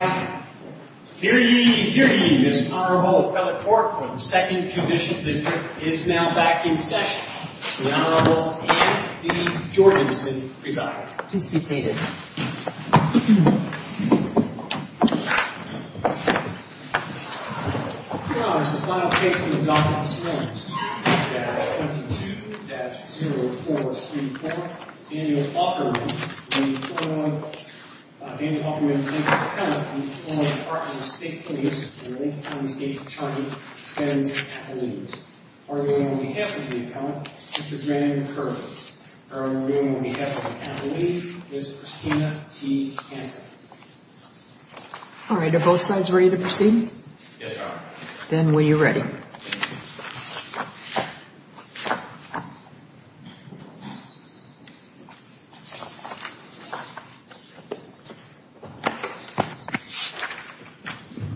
Here ye, here ye, this Honorable Appellate Court for the 2nd Judicial District is now back in session. The Honorable Anne B. Jorgensen presiding. Please be seated. Your Honor, the final case in the docket this morning is 2-22-0434. Daniel Aukerman, the former, uh, Daniel Aukerman v. Appellate, the former Department of State Police, Illinois County State's Attorney, defends Appellee. Arguing on behalf of the Appellate is Mr. Graham Curran. Arguing on behalf of Appellee is Christina T. Hanson. Alright, are both sides ready to proceed? Yes, Your Honor. Then, will you ready? Yes, Your Honor.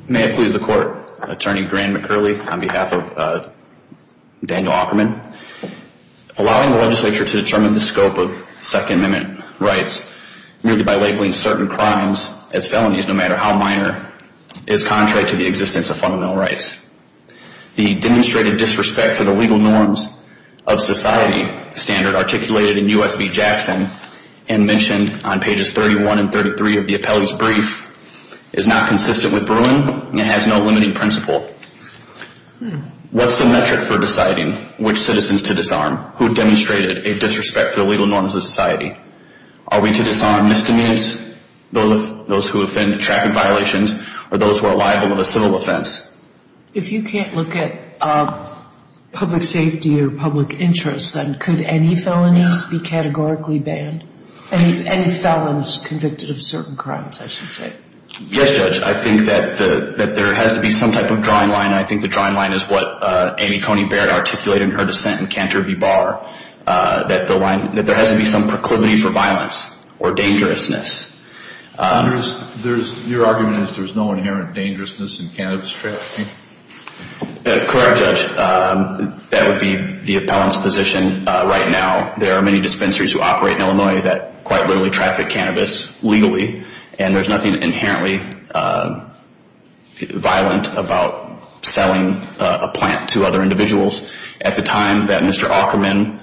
May it please the Court, Attorney Graham McCurley on behalf of, uh, Daniel Aukerman. Allowing the legislature to determine the scope of Second Amendment rights, merely by labeling certain crimes as felonies, no matter how minor, is contrary to the existence of fundamental rights. The demonstrated disrespect for the legal norms of society standard articulated in U.S. v. Jackson and mentioned on pages 31 and 33 of the Appellee's brief is not consistent with Bruin and has no limiting principle. What's the metric for deciding which citizens to disarm? Who demonstrated a disrespect for the legal norms of society? Are we to disarm misdemeanors, those who offend traffic violations, or those who are liable of a civil offense? If you can't look at public safety or public interest, then could any felonies be categorically banned? Any felons convicted of certain crimes, I should say. Yes, Judge. I think that there has to be some type of drawing line. I think the drawing line is what Amy Coney Barrett articulated in her dissent in Cantor v. Barr. That there has to be some proclivity for violence or dangerousness. Your argument is there is no inherent dangerousness in cannabis trafficking? Correct, Judge. That would be the appellant's position right now. There are many dispensaries who operate in Illinois that quite literally traffic cannabis legally. And there's nothing inherently violent about selling a plant to other individuals. At the time that Mr. Aukerman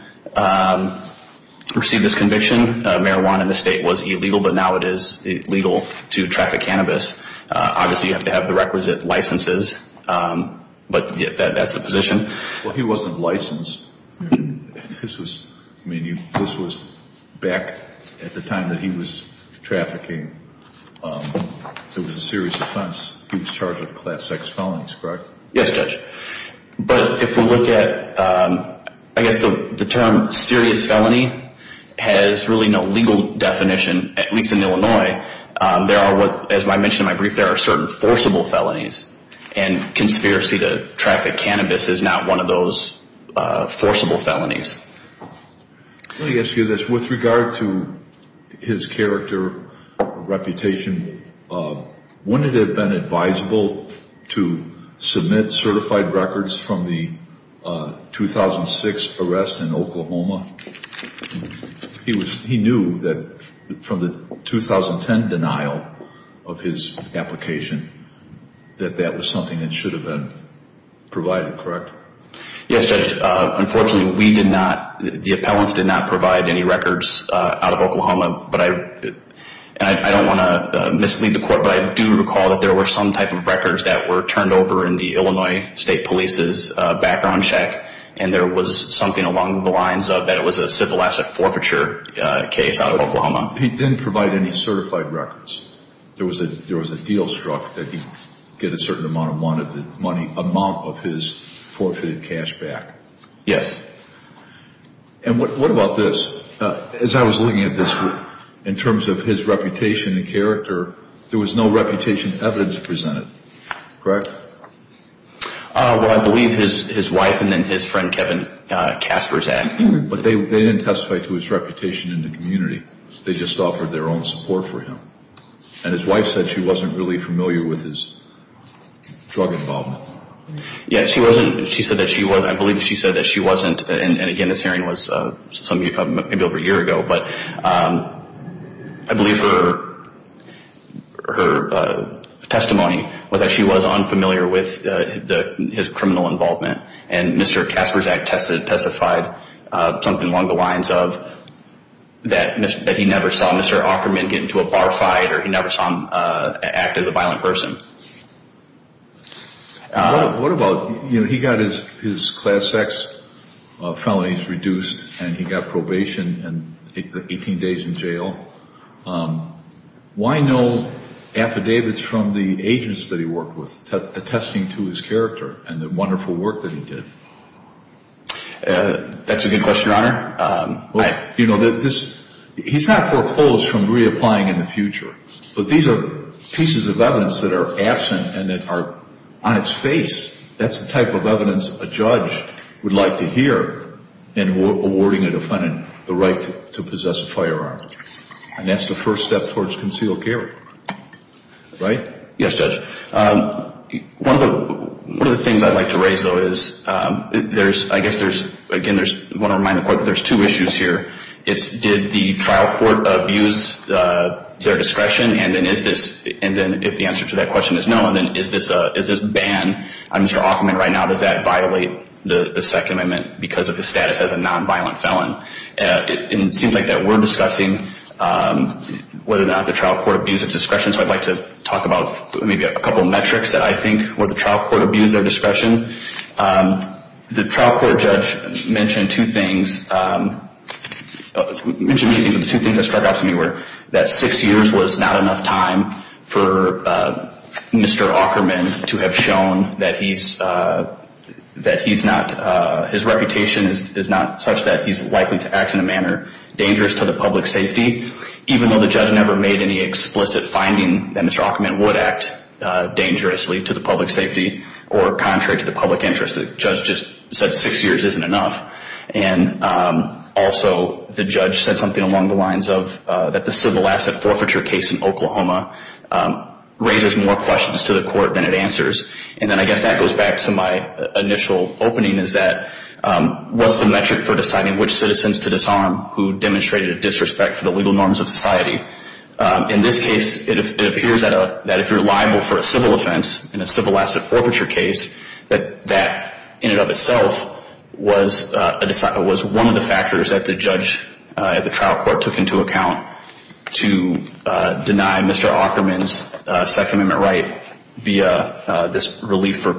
received his conviction, marijuana in the state was illegal, but now it is legal to traffic cannabis. Obviously, you have to have the requisite licenses, but that's the position. Well, he wasn't licensed. This was back at the time that he was trafficking. It was a serious offense. He was charged with class X felonies, correct? Yes, Judge. But if we look at, I guess the term serious felony has really no legal definition, at least in Illinois. As I mentioned in my brief, there are certain forcible felonies. And conspiracy to traffic cannabis is not one of those forcible felonies. Let me ask you this. With regard to his character, reputation, wouldn't it have been advisable to submit certified records from the 2006 arrest in Oklahoma? He knew that from the 2010 denial of his application that that was something that should have been provided, correct? Yes, Judge. Unfortunately, the appellants did not provide any records out of Oklahoma. I don't want to mislead the court, but I do recall that there were some type of records that were turned over in the Illinois State Police's background check, and there was something along the lines of that it was a syphilis forfeiture case out of Oklahoma. He didn't provide any certified records. There was a deal struck that he'd get a certain amount of his forfeited cash back. Yes. And what about this? As I was looking at this, in terms of his reputation and character, there was no reputation evidence presented, correct? Well, I believe his wife and then his friend Kevin Casper's act. But they didn't testify to his reputation in the community. They just offered their own support for him. And his wife said she wasn't really familiar with his drug involvement. Yes, she wasn't. She said that she was. I believe she said that she wasn't. And again, this hearing was maybe over a year ago. But I believe her testimony was that she was unfamiliar with his criminal involvement. And Mr. Casper's act testified something along the lines of that he never saw Mr. Aukerman get into a bar fight or he never saw him act as a violent person. What about, you know, he got his class X felonies reduced and he got probation and 18 days in jail. Why no affidavits from the agents that he worked with attesting to his character and the wonderful work that he did? That's a good question, Your Honor. You know, he's not foreclosed from reapplying in the future. But these are pieces of evidence that are absent and that are on its face. That's the type of evidence a judge would like to hear in awarding a defendant the right to possess a firearm. And that's the first step towards concealed carry, right? Yes, Judge. One of the things I'd like to raise, though, is there's, I guess there's, again, I want to remind the court that there's two issues here. It's did the trial court abuse their discretion? And then is this, and then if the answer to that question is no, then is this a ban? On Mr. Aukerman right now, does that violate the Second Amendment because of his status as a nonviolent felon? It seems like that we're discussing whether or not the trial court abused its discretion. So I'd like to talk about maybe a couple metrics that I think where the trial court abused their discretion. The trial court judge mentioned two things that struck out to me, where that six years was not enough time for Mr. Aukerman to have shown that he's not, his reputation is not such that he's likely to act in a manner dangerous to the public safety, even though the judge never made any explicit finding that Mr. Aukerman would act dangerously to the public safety or contrary to the public interest. The judge just said six years isn't enough. And also the judge said something along the lines of that the civil asset forfeiture case in Oklahoma raises more questions to the court than it answers. And then I guess that goes back to my initial opening, is that what's the metric for deciding which citizens to disarm who demonstrated a disrespect for the legal norms of society? In this case, it appears that if you're liable for a civil offense in a civil asset forfeiture case, that that in and of itself was one of the factors that the judge at the trial court took into account to deny Mr. Aukerman's Second Amendment right via this relief for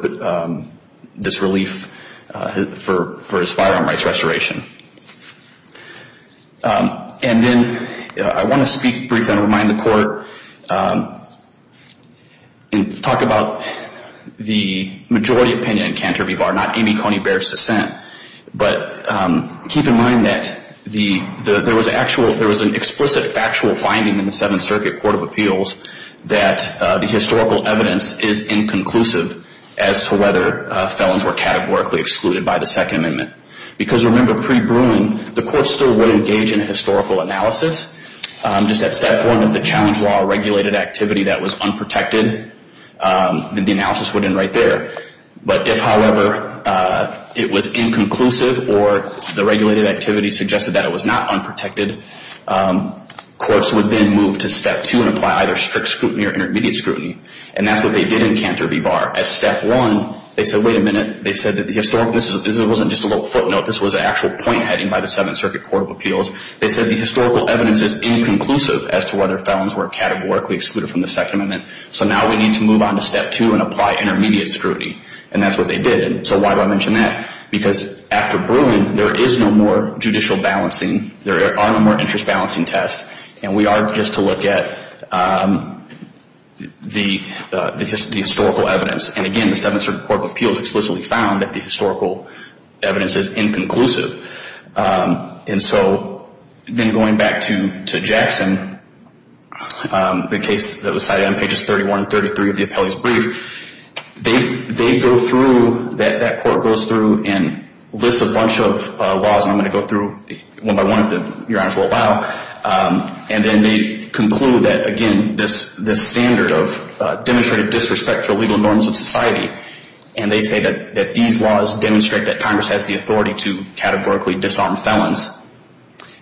his firearm rights restoration. And then I want to speak briefly and remind the court and talk about the majority opinion in Cantor v. Barr, not Amy Coney Barrett's dissent. But keep in mind that there was an explicit factual finding in the Seventh Circuit Court of Appeals that the historical evidence is inconclusive as to whether felons were categorically excluded by the Second Amendment. Because remember, pre-Bruin, the court still would engage in a historical analysis. Just at step one, if the challenge law regulated activity that was unprotected, then the analysis would end right there. But if, however, it was inconclusive or the regulated activity suggested that it was not unprotected, courts would then move to step two and apply either strict scrutiny or intermediate scrutiny. And that's what they did in Cantor v. Barr. At step one, they said, wait a minute, this wasn't just a little footnote, this was an actual point heading by the Seventh Circuit Court of Appeals. They said the historical evidence is inconclusive as to whether felons were categorically excluded from the Second Amendment. So now we need to move on to step two and apply intermediate scrutiny. And that's what they did. So why do I mention that? Because after Bruin, there is no more judicial balancing. There are no more interest balancing tests. And we are just to look at the historical evidence. And again, the Seventh Circuit Court of Appeals explicitly found that the historical evidence is inconclusive. And so then going back to Jackson, the case that was cited on pages 31 and 33 of the appellee's brief, they go through, that court goes through and lists a bunch of laws, and I'm going to go through one by one that Your Honors will allow. And then they conclude that, again, this standard of demonstrated disrespect for legal norms of society. And they say that these laws demonstrate that Congress has the authority to categorically disarm felons.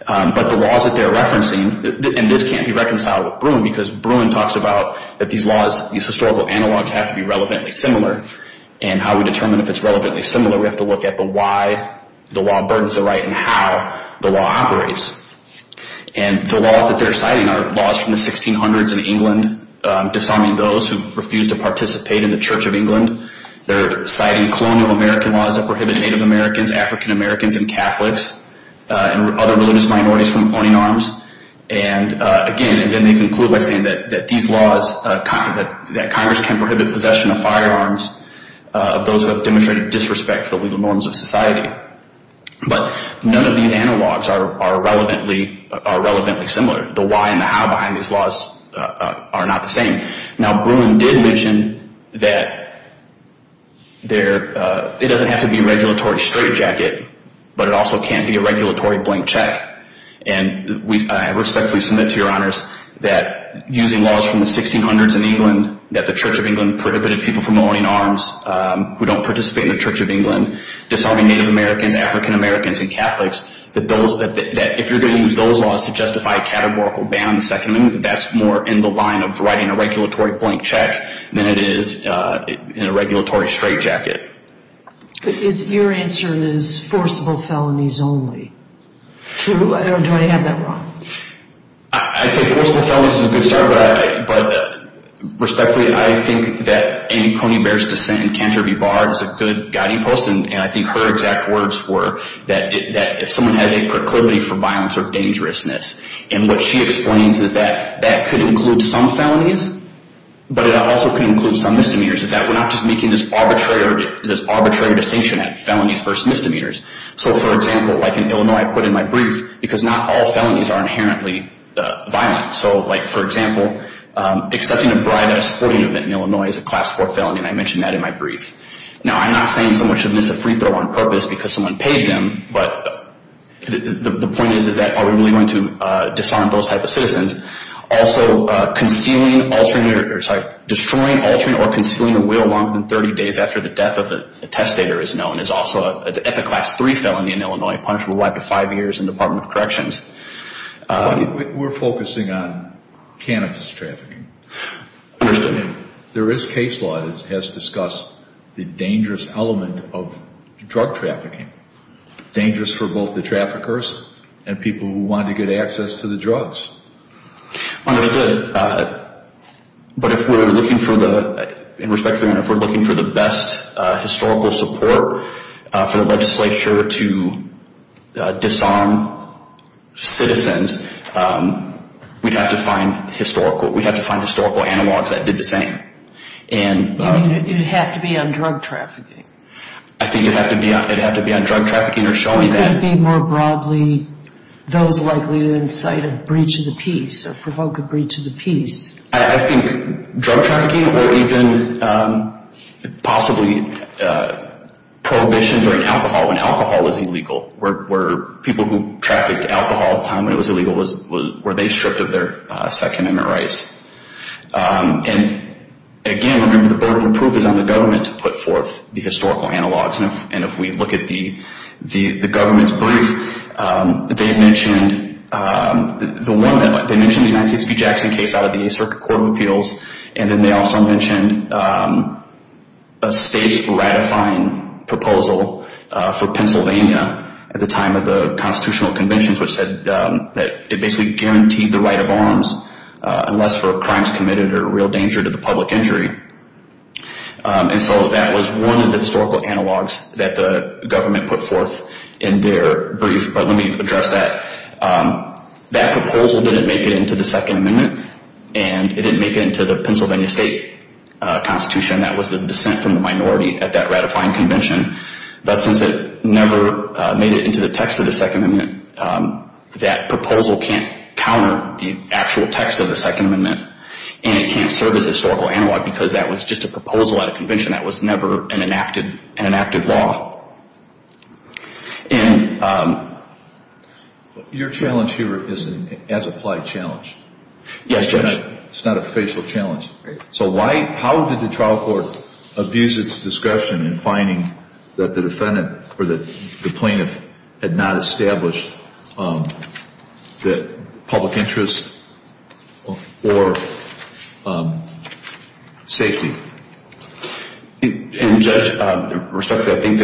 But the laws that they're referencing, and this can't be reconciled with Bruin, because Bruin talks about that these laws, these historical analogs have to be relevantly similar. And how we determine if it's relevantly similar, we have to look at the why the law burdens the right and how the law operates. And the laws that they're citing are laws from the 1600s in England disarming those who refused to participate in the Church of England. They're citing colonial American laws that prohibit Native Americans, African Americans, and Catholics, and other religious minorities from owning arms. And, again, and then they conclude by saying that these laws, that Congress can prohibit possession of firearms of those who have demonstrated disrespect for legal norms of society. But none of these analogs are relevantly similar. The why and the how behind these laws are not the same. Now, Bruin did mention that it doesn't have to be a regulatory straitjacket, but it also can't be a regulatory blank check. And I respectfully submit to your honors that using laws from the 1600s in England, that the Church of England prohibited people from owning arms who don't participate in the Church of England, disarming Native Americans, African Americans, and Catholics, that if you're going to use those laws to justify a categorical ban on the Second Amendment, I think that that's more in the line of writing a regulatory blank check than it is in a regulatory straitjacket. Is your answer is forcible felonies only? Or do I have that wrong? I'd say forcible felonies is a good start, but respectfully, I think that Annie Coney Bear's descent in Canterbury Bar is a good guiding post, and I think her exact words were that if someone has a proclivity for violence or dangerousness, and what she explains is that that could include some felonies, but it also could include some misdemeanors, is that we're not just making this arbitrary distinction at felonies versus misdemeanors. So, for example, like in Illinois, I put in my brief, because not all felonies are inherently violent. So, like, for example, accepting a bribe at a sporting event in Illinois is a Class IV felony, and I mentioned that in my brief. Now, I'm not saying someone should miss a free throw on purpose because someone paid them, but the point is that are we really going to dishonor those type of citizens? Also, destroying, altering, or concealing a will longer than 30 days after the death of the testator is known. It's a Class III felony in Illinois, punishable by up to five years in the Department of Corrections. We're focusing on cannabis trafficking. Understood. There is case law that has discussed the dangerous element of drug trafficking, dangerous for both the traffickers and people who want to get access to the drugs. Understood. But if we're looking for the best historical support for the legislature to disarm citizens, we'd have to find historical analogs that did the same. Do you mean it would have to be on drug trafficking? I think it'd have to be on drug trafficking or showing that. Or could it be more broadly those likely to incite a breach of the peace or provoke a breach of the peace? I think drug trafficking or even possibly prohibition during alcohol, when alcohol is illegal, where people who trafficked alcohol at the time when it was illegal, were they stripped of their Second Amendment rights? And, again, remember the burden of proof is on the government to put forth the historical analogs. And if we look at the government's brief, they mentioned the one that went, they mentioned the United States v. Jackson case out of the Eighth Circuit Court of Appeals, and then they also mentioned a state's ratifying proposal for Pennsylvania at the time of the constitutional conventions which said that it basically guaranteed the right of arms unless for crimes committed or real danger to the public injury. And so that was one of the historical analogs that the government put forth in their brief. But let me address that. That proposal didn't make it into the Second Amendment, and it didn't make it into the Pennsylvania state constitution. That was a dissent from the minority at that ratifying convention. But since it never made it into the text of the Second Amendment, that proposal can't counter the actual text of the Second Amendment, and it can't serve as a historical analog because that was just a proposal at a convention. That was never an enacted law. And your challenge here is an as-applied challenge. Yes, Judge. It's not a facial challenge. So how did the trial court abuse its discussion in finding that the defendant or the plaintiff had not established the public interest or safety? And, Judge, respectfully, I think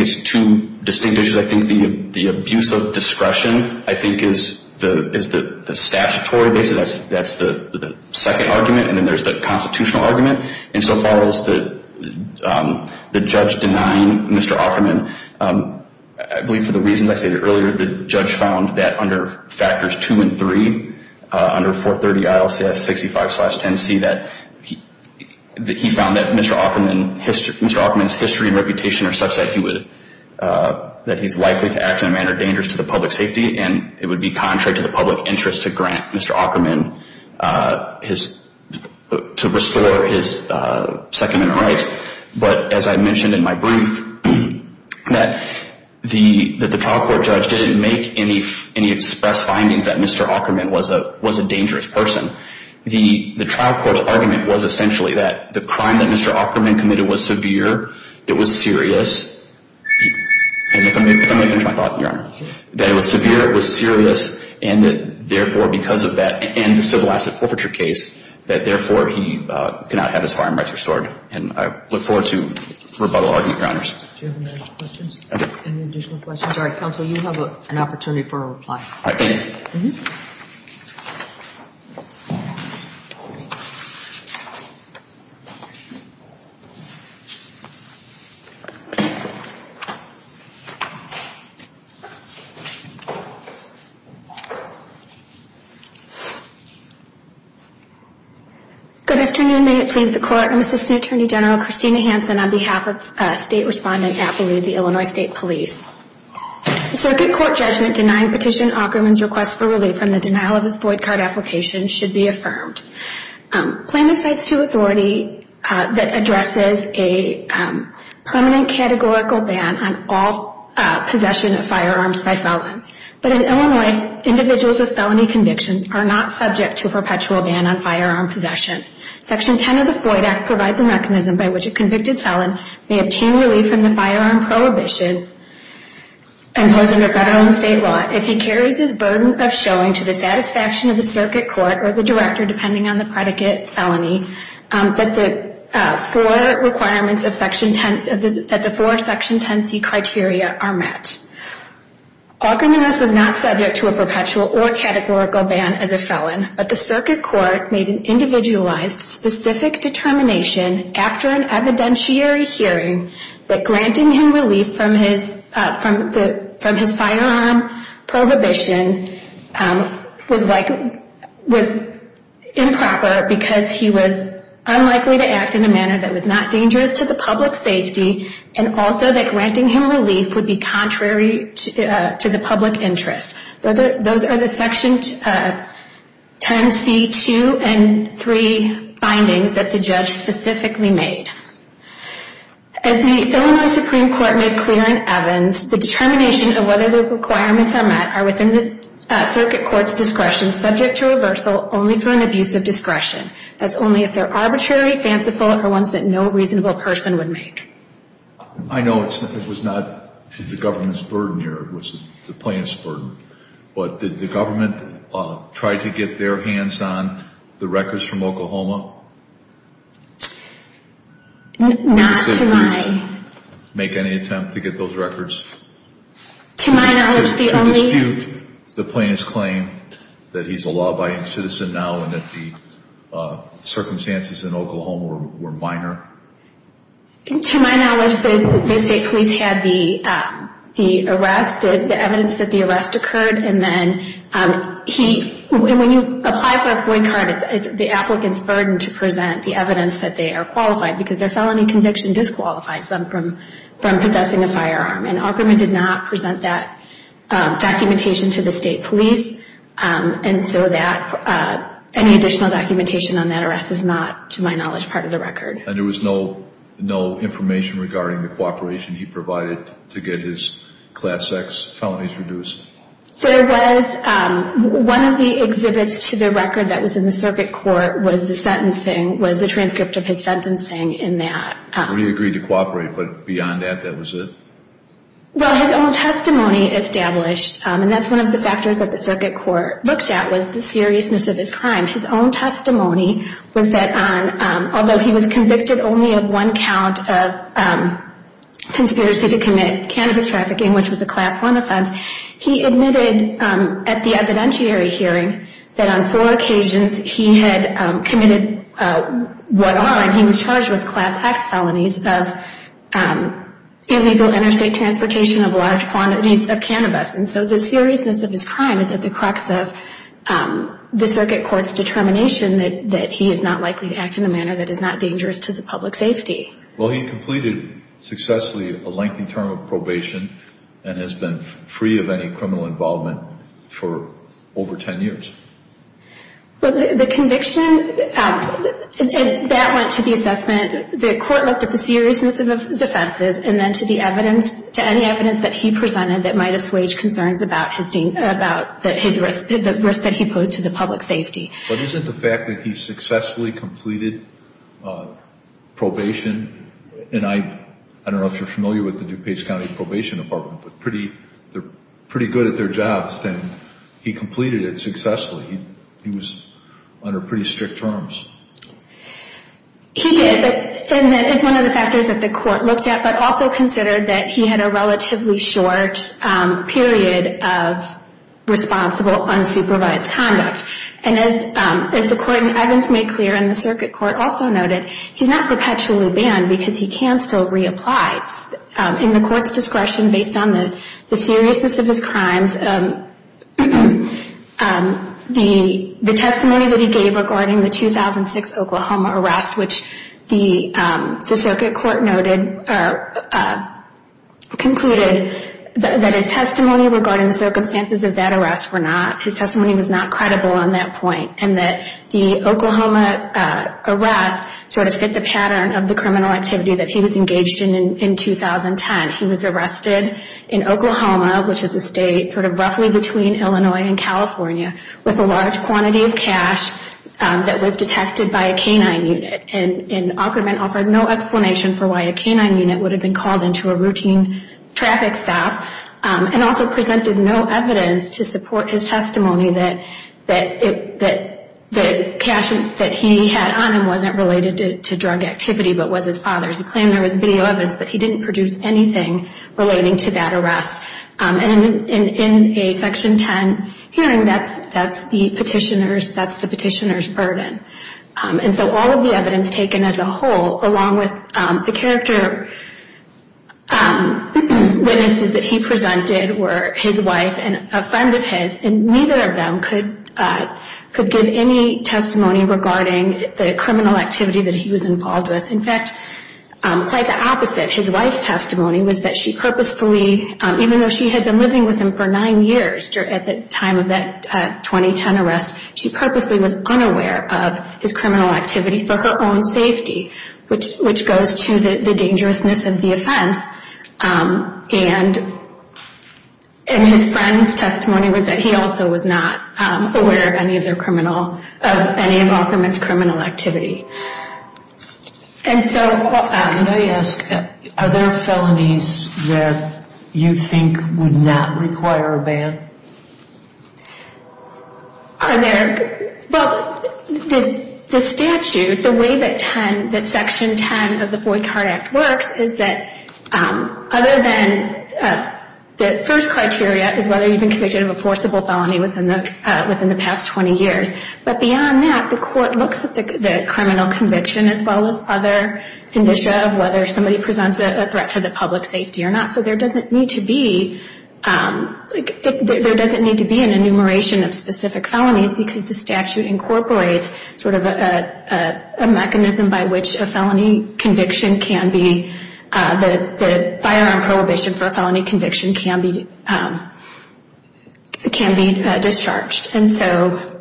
it's two distinct issues. I think the abuse of discretion I think is the statutory basis. That's the second argument. And then there's the constitutional argument. And so far as the judge denying Mr. Opperman, I believe for the reasons I stated earlier, the judge found that under factors two and three, under 430 ILCS 65-10C, that he found that Mr. Opperman's history and reputation are such that he's likely to act in a manner dangerous to the public safety, and it would be contrary to the public interest to grant Mr. Opperman to restore his Second Amendment rights. But as I mentioned in my brief, that the trial court judge didn't make any express findings that Mr. Opperman was a dangerous person. The trial court's argument was essentially that the crime that Mr. Opperman committed was severe, it was serious, and if I may finish my thought, Your Honor, that it was severe, it was serious, and that, therefore, because of that and the civil asset forfeiture case, that, therefore, he cannot have his farm rights restored. And I look forward to rebuttal argument, Your Honors. Do you have any other questions? Any additional questions? All right. Counsel, you have an opportunity for a reply. All right. Thank you. Thank you. Good afternoon. May it please the Court. I'm Assistant Attorney General Christina Hanson on behalf of State Respondent Appaloo, the Illinois State Police. The circuit court judgment denying Petitioner Opperman's request for relief from the denial of his void card application should be affirmed. Plaintiff cites to authority that addresses a permanent categorical ban on all possession of firearms by felons. But in Illinois, individuals with felony convictions are not subject to a perpetual ban on firearm possession. Section 10 of the Void Act provides a mechanism by which a convicted felon may obtain relief from the firearm prohibition imposed under federal and state law if he carries his burden of showing to the satisfaction of the circuit court or the director, depending on the predicate, felony, that the four requirements of Section 10C, that the four Section 10C criteria are met. Opperman is not subject to a perpetual or categorical ban as a felon, but the circuit court made an individualized specific determination after an evidentiary hearing that granting him relief from his firearm prohibition was improper because he was unlikely to act in a manner that was not dangerous to the public's safety and also that granting him relief would be contrary to the public interest. Those are the Section 10C2 and 3 findings that the judge specifically made. As the Illinois Supreme Court made clear in Evans, the determination of whether the requirements are met are within the circuit court's discretion, that's only if they're arbitrary, fanciful, or ones that no reasonable person would make. I know it was not the government's burden here, it was the plaintiff's burden, but did the government try to get their hands on the records from Oklahoma? Not to my knowledge. Did the police make any attempt to get those records? To my knowledge, the only... circumstances in Oklahoma were minor. To my knowledge, the state police had the arrest, the evidence that the arrest occurred, and then when you apply for a FOIA card, it's the applicant's burden to present the evidence that they are qualified because their felony conviction disqualifies them from possessing a firearm, and Opperman did not present that documentation to the state police, and so any additional documentation on that arrest is not, to my knowledge, part of the record. And there was no information regarding the cooperation he provided to get his Class X felonies reduced? There was. One of the exhibits to the record that was in the circuit court was the transcript of his sentencing in that. Where he agreed to cooperate, but beyond that, that was it? Well, his own testimony established, and that's one of the factors that the circuit court looked at was the seriousness of his crime. His own testimony was that although he was convicted only of one count of conspiracy to commit cannabis trafficking, which was a Class I offense, he admitted at the evidentiary hearing that on four occasions he had committed what on? He was charged with Class X felonies of illegal interstate transportation of large quantities of cannabis, and so the seriousness of his crime is at the crux of the circuit court's determination that he is not likely to act in a manner that is not dangerous to the public safety. Well, he completed successfully a lengthy term of probation and has been free of any criminal involvement for over 10 years. Well, the conviction, that went to the assessment. The court looked at the seriousness of his offenses and then to the evidence, to any evidence that he presented that might assuage concerns about his risk, the risk that he posed to the public safety. But isn't the fact that he successfully completed probation, and I don't know if you're familiar with the DuPage County Probation Department, but they're pretty good at their jobs, and he completed it successfully. He was under pretty strict terms. He did, and that is one of the factors that the court looked at, but also considered that he had a relatively short period of responsible, unsupervised conduct. And as the court and evidence made clear and the circuit court also noted, he's not perpetually banned because he can still reapply. In the court's discretion, based on the seriousness of his crimes, the testimony that he gave regarding the 2006 Oklahoma arrest, which the circuit court noted, or concluded, that his testimony regarding the circumstances of that arrest were not, his testimony was not credible on that point, and that the Oklahoma arrest sort of fit the pattern of the criminal activity that he was engaged in in 2010. He was arrested in Oklahoma, which is a state sort of roughly between Illinois and California, with a large quantity of cash that was detected by a K-9 unit. And Aukerman offered no explanation for why a K-9 unit would have been called into a routine traffic stop and also presented no evidence to support his testimony that the cash that he had on him wasn't related to drug activity but was his father's. He claimed there was video evidence, but he didn't produce anything relating to that arrest. And in a Section 10 hearing, that's the petitioner's burden. And so all of the evidence taken as a whole, along with the character witnesses that he presented, were his wife and a friend of his, and neither of them could give any testimony regarding the criminal activity that he was involved with. In fact, quite the opposite, his wife's testimony was that she purposefully, even though she had been living with him for nine years at the time of that 2010 arrest, she purposely was unaware of his criminal activity for her own safety, which goes to the dangerousness of the offense. And his friend's testimony was that he also was not aware of any of Aukerman's criminal activity. Can I ask, are there felonies that you think would not require a bail? Are there? Well, the statute, the way that Section 10 of the FOIA Card Act works, is that other than the first criteria is whether you've been convicted of a forcible felony within the past 20 years. But beyond that, the court looks at the criminal conviction as well as other condition of whether somebody presents a threat to the public safety or not. So there doesn't need to be an enumeration of specific felonies because the statute incorporates sort of a mechanism by which a felony conviction can be, the firearm prohibition for a felony conviction can be discharged. And so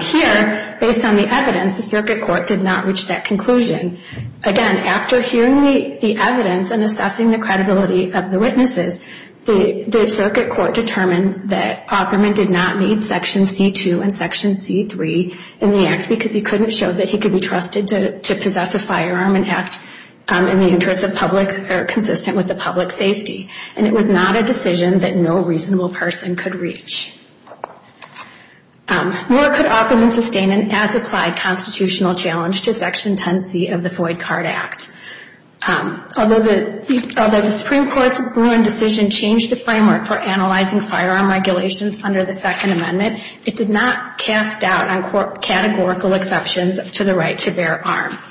here, based on the evidence, the circuit court did not reach that conclusion. Again, after hearing the evidence and assessing the credibility of the witnesses, the circuit court determined that Aukerman did not meet Section C-2 and Section C-3 in the act because he couldn't show that he could be trusted to possess a firearm and act in the interest of public or consistent with the public safety. And it was not a decision that no reasonable person could reach. Moore could often sustain an as-applied constitutional challenge to Section 10C of the Foyd Card Act. Although the Supreme Court's Bruin decision changed the framework for analyzing firearm regulations under the Second Amendment, it did not cast doubt on categorical exceptions to the right to bear arms.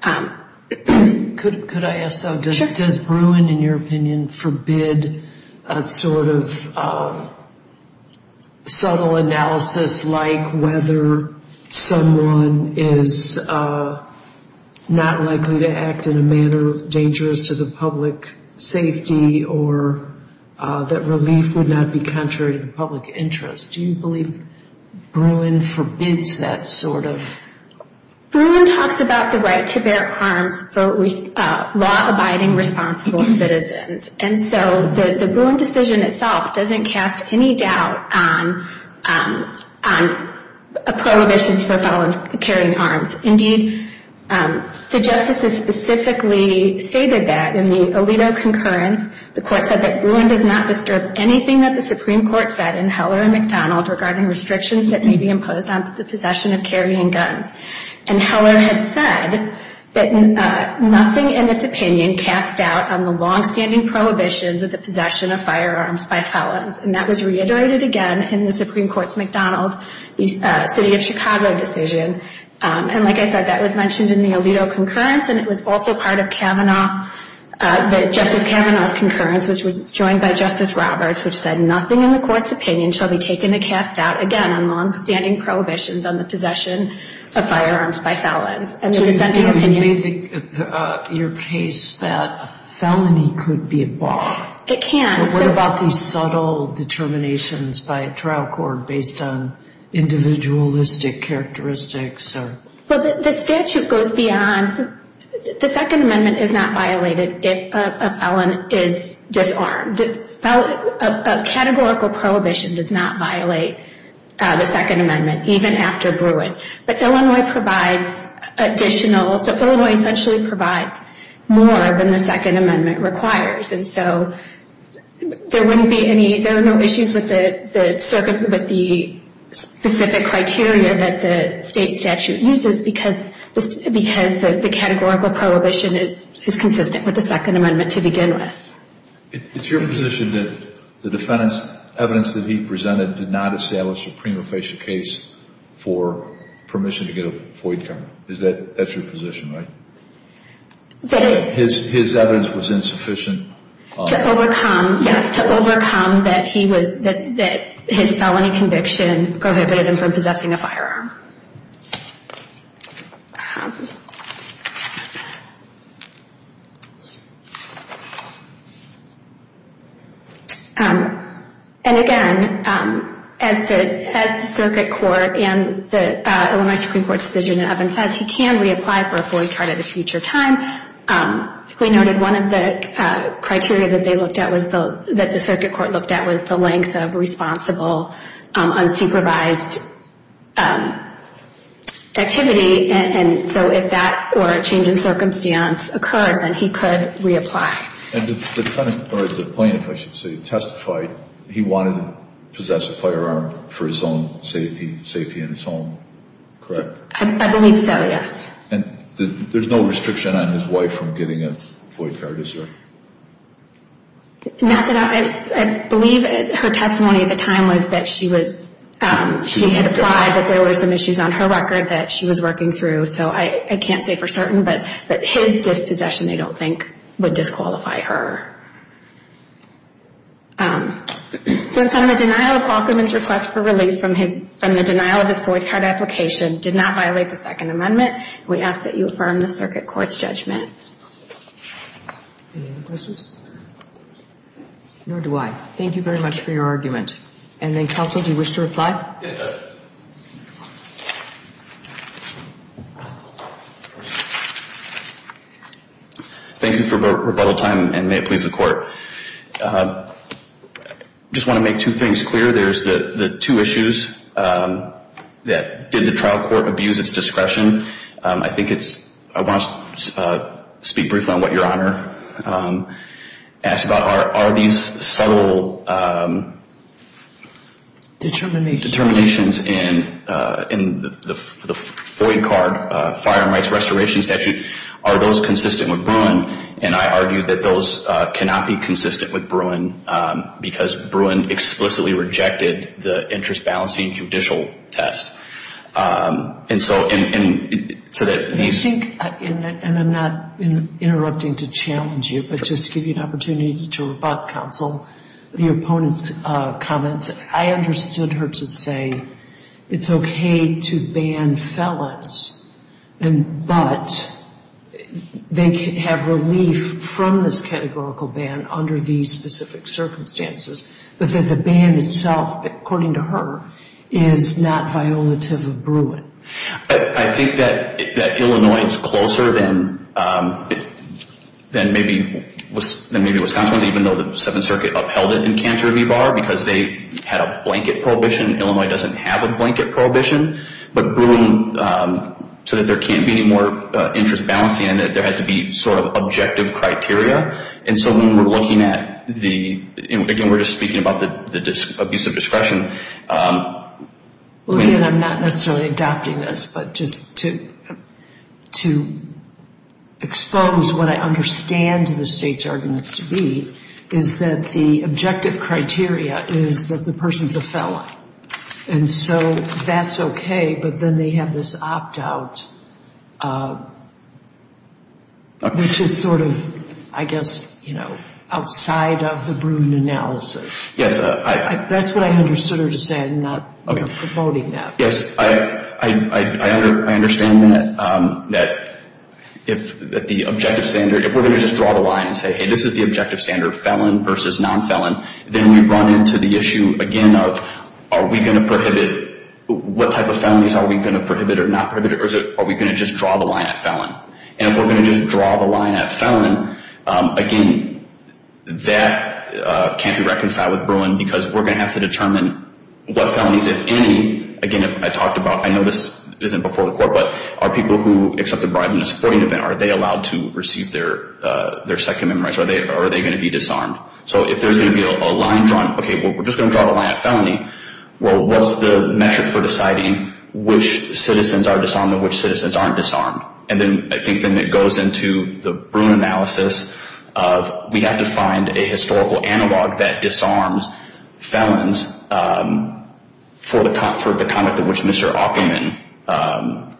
Could I ask though, does Bruin, in your opinion, forbid a sort of subtle analysis like whether someone is not likely to act in a manner dangerous to the public safety or that relief would not be contrary to the public interest? Do you believe Bruin forbids that sort of? Bruin talks about the right to bear arms for law-abiding, responsible citizens. And so the Bruin decision itself doesn't cast any doubt on prohibitions for carrying arms. Indeed, the justices specifically stated that in the Alito concurrence, the court said that Bruin does not disturb anything that the Supreme Court said in Heller and McDonald regarding restrictions that may be imposed on the possession of carrying guns. And Heller had said that nothing in its opinion cast doubt on the longstanding prohibitions of the possession of firearms by felons. And that was reiterated again in the Supreme Court's McDonald City of Chicago decision. And like I said, that was mentioned in the Alito concurrence, and it was also part of Kavanaugh. But Justice Kavanaugh's concurrence was joined by Justice Roberts, which said nothing in the court's opinion shall be taken to cast doubt, again, on longstanding prohibitions on the possession of firearms by felons. And it was sent to opinion. Do you believe in your case that a felony could be a bar? It can. What about these subtle determinations by a trial court based on individualistic characteristics? Well, the statute goes beyond. The Second Amendment is not violated if a felon is disarmed. A categorical prohibition does not violate the Second Amendment, even after Bruin. But Illinois provides additional. So Illinois essentially provides more than the Second Amendment requires. And so there are no issues with the specific criteria that the state statute uses because the categorical prohibition is consistent with the Second Amendment to begin with. It's your position that the defendant's evidence that he presented did not establish a prima facie case for permission to get a FOIA cover? That's your position, right? That his evidence was insufficient? To overcome, yes, to overcome that his felony conviction prohibited him from possessing a firearm. And again, as the circuit court and the Illinois Supreme Court decision in Evans says, he can reapply for a FOIA card at a future time. We noted one of the criteria that the circuit court looked at was the length of responsible, unsupervised activity. And so if that or a change in circumstance occurred, then he could reapply. And the defendant, or the plaintiff I should say, testified he wanted to possess a firearm for his own safety, safety in his home, correct? I believe so, yes. And there's no restriction on his wife from getting a FOIA card, is there? Not that I believe her testimony at the time was that she was, she had applied but there were some issues on her record that she was working through. So I can't say for certain, but his dispossession I don't think would disqualify her. So in sum, the denial of Qualcomm's request for relief from the denial of his FOIA card application did not violate the Second Amendment. We ask that you affirm the circuit court's judgment. Any other questions? Nor do I. Thank you very much for your argument. And then counsel, do you wish to reply? Yes, Judge. Thank you for your rebuttal time, and may it please the Court. I just want to make two things clear. There's the two issues that did the trial court abuse its discretion. I think it's, I want to speak briefly on what Your Honor asked about. Are these subtle determinations in the FOIA card, Fire and Rights Restoration Statute, are those consistent with Bruin? And I argue that those cannot be consistent with Bruin, because Bruin explicitly rejected the interest-balancing judicial test. And so that these – I think, and I'm not interrupting to challenge you, but just to give you an opportunity to rebut, counsel, the opponent's comments. I understood her to say it's okay to ban felons, but they can have relief from this categorical ban under these specific circumstances, but that the ban itself, according to her, is not violative of Bruin. I think that Illinois is closer than maybe Wisconsin, even though the Seventh Circuit upheld it in Canterbury Bar because they had a blanket prohibition. Illinois doesn't have a blanket prohibition. But Bruin, so that there can't be any more interest-balancing, there had to be sort of objective criteria. And so when we're looking at the – again, we're just speaking about the abuse of discretion. Well, again, I'm not necessarily adopting this, but just to expose what I understand the state's arguments to be, is that the objective criteria is that the person's a felon. And so that's okay, but then they have this opt-out, which is sort of, I guess, outside of the Bruin analysis. Yes. That's what I understood her to say. I'm not promoting that. Yes. I understand that if the objective standard – if we're going to just draw the line and say, hey, this is the objective standard, felon versus non-felon, then we run into the issue again of are we going to prohibit – what type of felonies are we going to prohibit or not prohibit? Or are we going to just draw the line at felon? And if we're going to just draw the line at felon, again, that can't be reconciled with Bruin, because we're going to have to determine what felonies, if any – again, I talked about – I know this isn't before the court, but are people who accept a bribe in a supporting event, are they allowed to receive their second memorandum? Are they going to be disarmed? So if there's going to be a line drawn, okay, well, we're just going to draw the line at felony. Well, what's the metric for deciding which citizens are disarmed and which citizens aren't disarmed? And then I think then it goes into the Bruin analysis of we have to find a historical analog that disarms felons for the conduct of which Mr. Opperman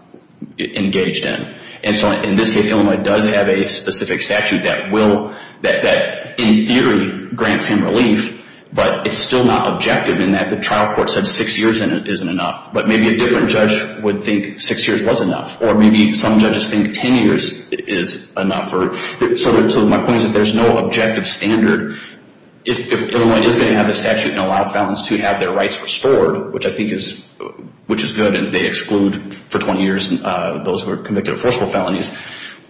engaged in. And so in this case, Illinois does have a specific statute that will – that in theory grants him relief, but it's still not objective in that the trial court said six years isn't enough. But maybe a different judge would think six years was enough, or maybe some judges think ten years is enough. So my point is that there's no objective standard. Illinois does have a statute that allows felons to have their rights restored, which I think is – which is good, and they exclude for 20 years those who are convicted of forcible felonies.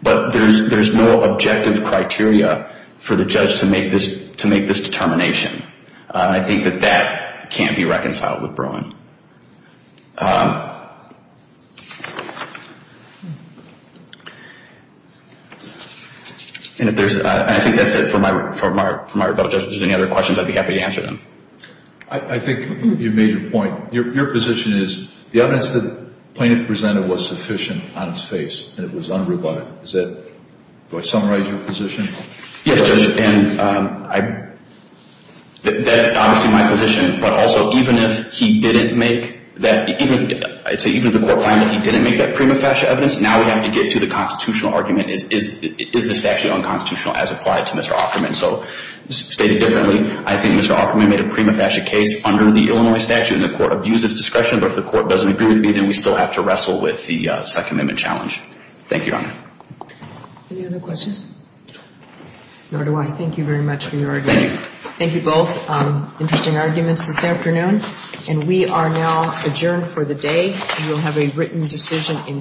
But there's no objective criteria for the judge to make this determination. I think that that can't be reconciled with Bruin. And if there's – and I think that's it for my rebuttal, Judge. If there's any other questions, I'd be happy to answer them. I think you've made your point. Your position is the evidence the plaintiff presented was sufficient on its face, and it was unrebutted. Is that – do I summarize your position? Yes, Judge, and I – that's obviously my position, but also even if he didn't make that – I'd say even if the court finds that he didn't make that prima facie evidence, now we have to get to the constitutional argument. Is the statute unconstitutional as applied to Mr. Opperman? So stated differently, I think Mr. Opperman made a prima facie case under the Illinois statute, and the court abused its discretion. But if the court doesn't agree with me, then we still have to wrestle with the second amendment challenge. Thank you, Your Honor. Any other questions? Nor do I. Thank you very much for your argument. Thank you. Thank you both. Interesting arguments this afternoon. You will have a written decision in due course.